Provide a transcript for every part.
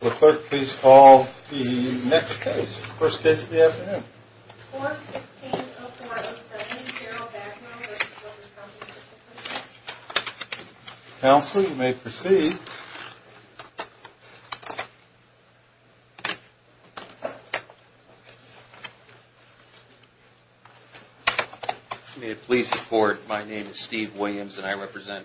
Clerk, please call the next case. First case of the afternoon. 416-0407, Daryl Bagwell v. Workers' Compensation Commission. Counsel, you may proceed. May it please the court, my name is Steve Williams and I represent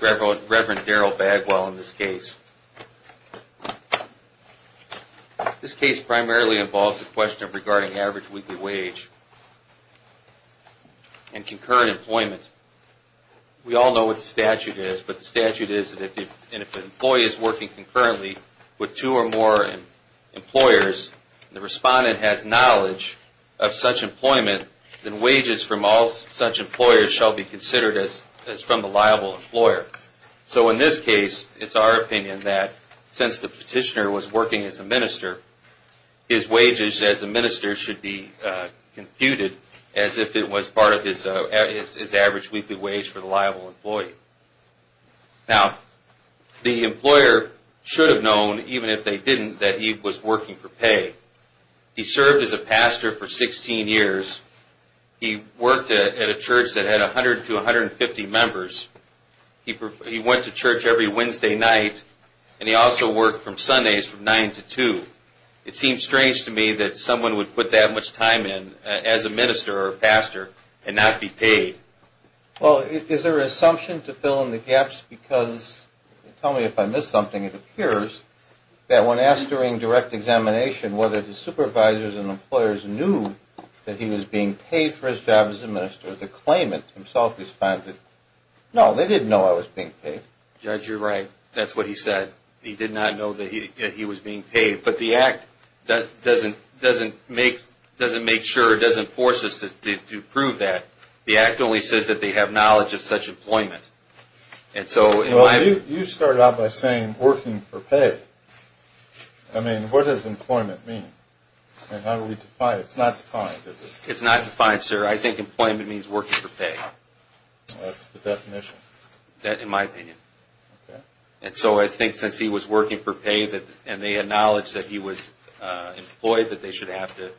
Reverend Daryl Bagwell in this case. This case primarily involves a question regarding average weekly wage and concurrent employment. We all know what the statute is, but the statute is that if an employee is working concurrently with two or more employers and the respondent has knowledge of such employment, then wages from all such employers shall be considered as from the liable employer. So in this case, it's our opinion that since the petitioner was working as a minister, his wages as a minister should be computed as if it was part of his average weekly wage for the liable employee. Now, the employer should have known, even if they didn't, that he was working for pay. He served as a pastor for 16 years. He worked at a church that had 100 to 150 members. He went to church every Wednesday night and he also worked from Sundays from 9 to 2. It seems strange to me that someone would put that much time in as a minister or a pastor and not be paid. Well, is there an assumption to fill in the gaps because, tell me if I missed something, it appears that when asked during direct examination whether the employers knew that he was being paid for his job as a minister, the claimant himself responded, no, they didn't know I was being paid. Judge, you're right. That's what he said. He did not know that he was being paid. But the Act doesn't make sure, doesn't force us to prove that. The Act only says that they have knowledge of such employment. And so in my view... Well, you started out by saying working for pay. I mean, what does employment mean? And how do we define it? It's not defined, is it? It's not defined, sir. I think employment means working for pay. That's the definition. In my opinion. And so I think since he was working for pay and they had knowledge that he was employed, that they should have to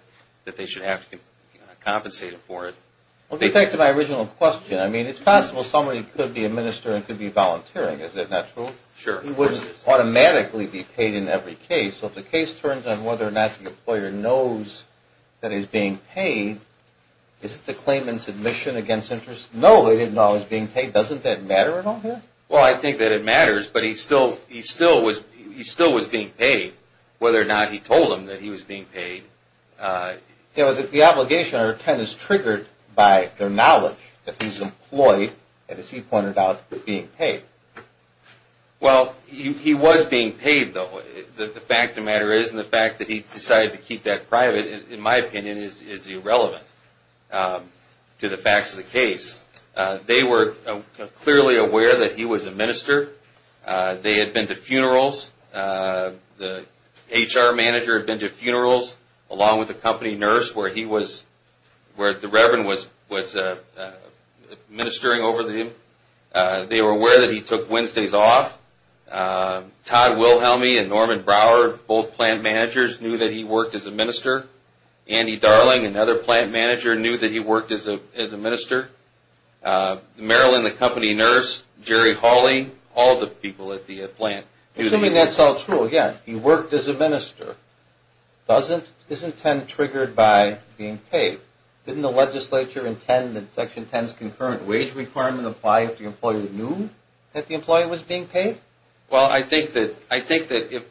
compensate him for it. Well, to get back to my original question, I mean, it's possible somebody could be a minister and could be volunteering. Is that not true? Sure. He would automatically be paid in every case. So if the case turns on whether or not the employer knows that he's being paid, is it the claimant's admission against interest? No, they didn't know I was being paid. Doesn't that matter at all here? Well, I think that it matters, but he still was being paid whether or not he told them that he was being paid. Yeah, but the obligation under 10 is triggered by their knowledge that he's employed and, as he pointed out, being paid. Well, he was being paid, though. The fact of the matter is, and the fact that he decided to keep that private, in my opinion, is irrelevant to the facts of the case. They were clearly aware that he was a minister. They had been to funerals. The HR manager had been to funerals, along with the company nurse where he was, where the Reverend was ministering over them. They were aware that he took Wednesdays off. Todd Wilhelmi and Norman Brower, both plant managers, knew that he worked as a minister. Andy Darling, another plant manager, knew that he worked as a minister. Marilyn, the company nurse, Jerry Hawley, all the people at the plant knew that he was a minister. Assuming that's all true, again, he worked as a minister. Isn't 10 triggered by being paid? Didn't the legislature intend that Section 10's concurrent wage requirement apply if the employee knew that the employee was being paid? Well, I think that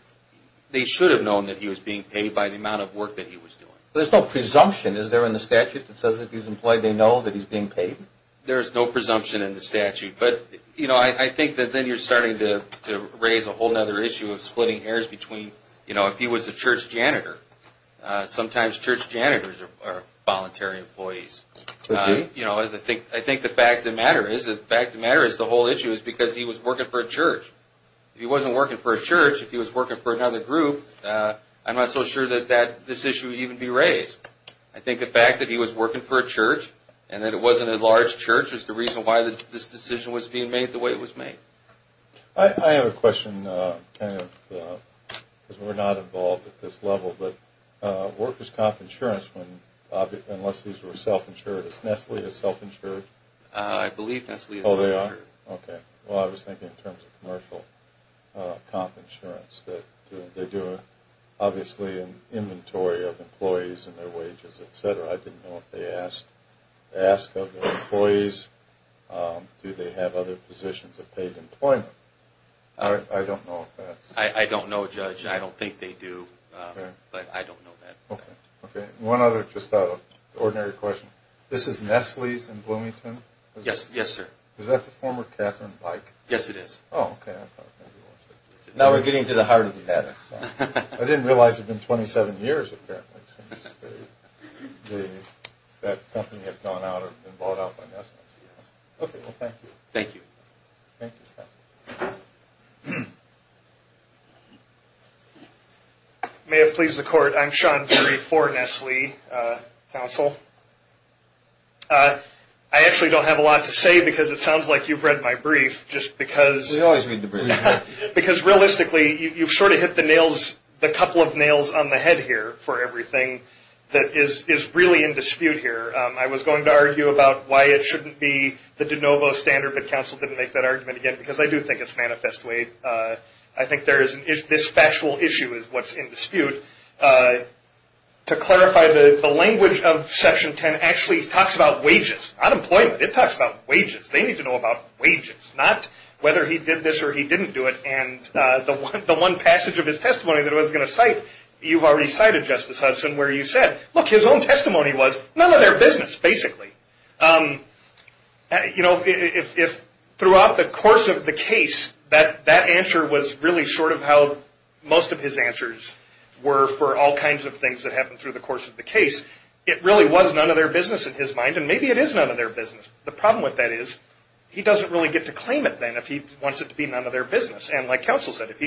they should have known that he was being paid by the amount of work that he was doing. There's no presumption, is there, in the statute that says if he's employed, they know that he's being paid? There's no presumption in the statute. But, you know, I think that then you're starting to raise a whole other issue of splitting hairs between, you know, if he was a church janitor. Sometimes church janitors are voluntary employees. You know, I think the fact of the matter is, the fact of the matter is the whole issue is because he was working for a church. If he wasn't working for a church, if he was working for another group, I'm not so sure that this issue would even be raised. I think the fact that he was working for a church and that it wasn't a large church is the reason why this decision was being made the way it was made. I have a question, kind of, because we're not involved at this level, but what purpose is comp insurance unless these are self-insured? Is Nestle self- insured? I believe Nestle is self-insured. Oh, they are? Okay. Well, I was thinking in terms of commercial comp insurance. They do, obviously, an inventory of employees and their wages, et cetera. I didn't know if they ask of their employees. Do they have other positions of paid employment? I don't know if that's... I don't know, Judge. I don't think they do, but I don't know that. Okay. One other, just out of ordinary question. This is Nestle's in Bloomington? Yes, sir. Is that the former Catherine Byke? Yes, it is. Oh, okay. I thought maybe it was. Now we're getting to the heart of the matter. I didn't realize it had been 27 years, apparently, since that company had gone out and been bought out by Nestle. Okay, well, thank you. Thank you. Thank you. May it please the court, I'm Sean Curry for Nestle Council. I actually don't have a lot to say because it sounds like you've read my brief just because... We always read the brief. Because realistically, you've sort of hit the nails, the couple of nails on the head here for everything that is really in dispute here. I was going to argue about why it shouldn't be the de novo standard, but counsel didn't make that argument again because I do think it's manifest way. I think this factual issue is what's in dispute. To clarify, the language of Section 10 actually talks about wages, unemployment. It talks about wages. They need to know about wages, not whether he did this or he didn't do it. And the one passage of his testimony that I was going to cite, you've already cited, Justice Hudson, where you said, look, his own testimony was none of their business, basically. You know, if throughout the course of the case, that answer was really short of how most of his answers were for all kinds of things that happened through the course of the case, it really was none of their business in his mind, and maybe it is none of their business. The problem with that is he doesn't really get to claim it then if he wants it to be none of their business. And like counsel said, if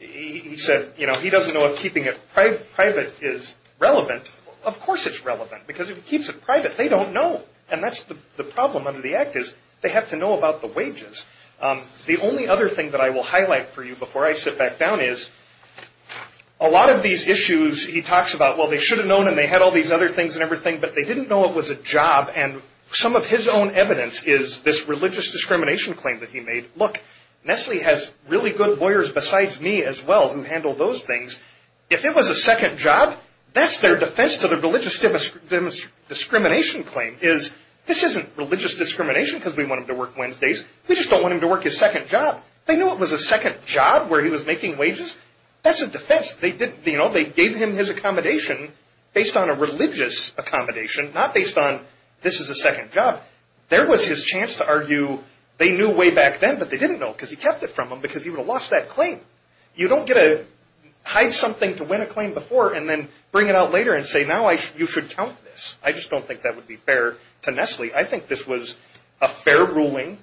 he said, you know, he doesn't know if keeping it private is relevant, of course it's relevant because if he keeps it private, they don't know. And that's the problem under the Act is they have to know about the wages. The only other thing that I will highlight for you before I sit back down is a lot of these issues he talks about, well, they should have known and they had all these other things and everything, but they didn't know it was a job. And some of his own evidence is this religious discrimination claim that he made. Look, Nestle has really good lawyers besides me as well who handle those things. If it was a second job, that's their defense to the religious discrimination claim is this isn't religious discrimination because we want him to work Wednesdays. We just don't want him to work his second job. They knew it was a second job where he was making wages. That's a defense. They gave him his accommodation based on a religious accommodation, not based on this is a second job. There was his chance to argue they knew way back then, but they didn't know because he kept it from them because he would have lost that claim. You don't get to hide something to win a claim before and then bring it out later and say now you should count this. I just don't think that would be fair to Nestle. I think this was a fair ruling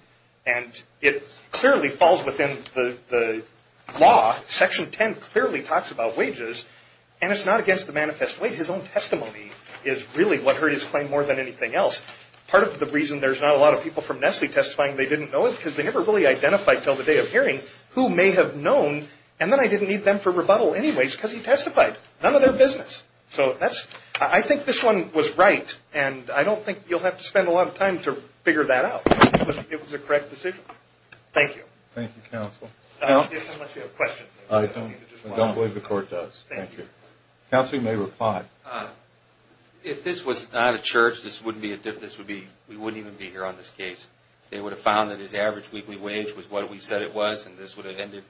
and it clearly falls within the law. Section 10 clearly talks about wages and it's not against the manifest way. His own testimony is really what hurt his claim more than anything else. Part of the reason there's not a lot of people from Nestle testifying they didn't know is because they never really identified until the day of hearing who may have known and then I didn't need them for rebuttal anyways because he testified. None of their business. So I think this one was right and I don't think you'll have to spend a lot of time to figure that out, but it was a correct decision. Thank you. Thank you, counsel. I don't believe the court does. Thank you. Counsel, you may reply. If this was not a church, we wouldn't even be here on this case. They would have found that his average weekly wage was what we said it was and this would have ended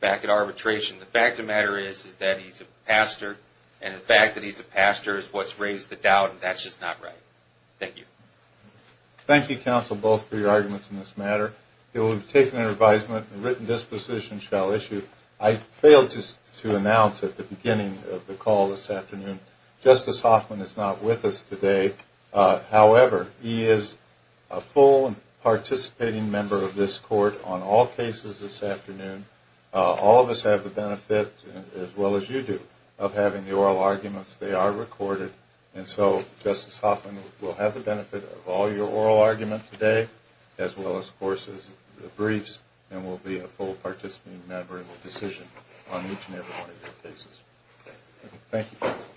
back at arbitration. The fact of the matter is that he's a pastor and the fact that he's a pastor is what's raised the doubt and that's just not right. Thank you. Thank you, counsel, both for your arguments on this matter. It will be taken under advisement and written disposition shall issue. I failed to announce at the beginning of the call this afternoon, Justice Hoffman is not with us today. However, he is a full and participating member of this as well as you do of having the oral arguments. They are recorded and so Justice Hoffman will have the benefit of all your oral arguments today as well as the briefs and will be a full participating member of the decision on each and every one of your cases. Thank you, counsel.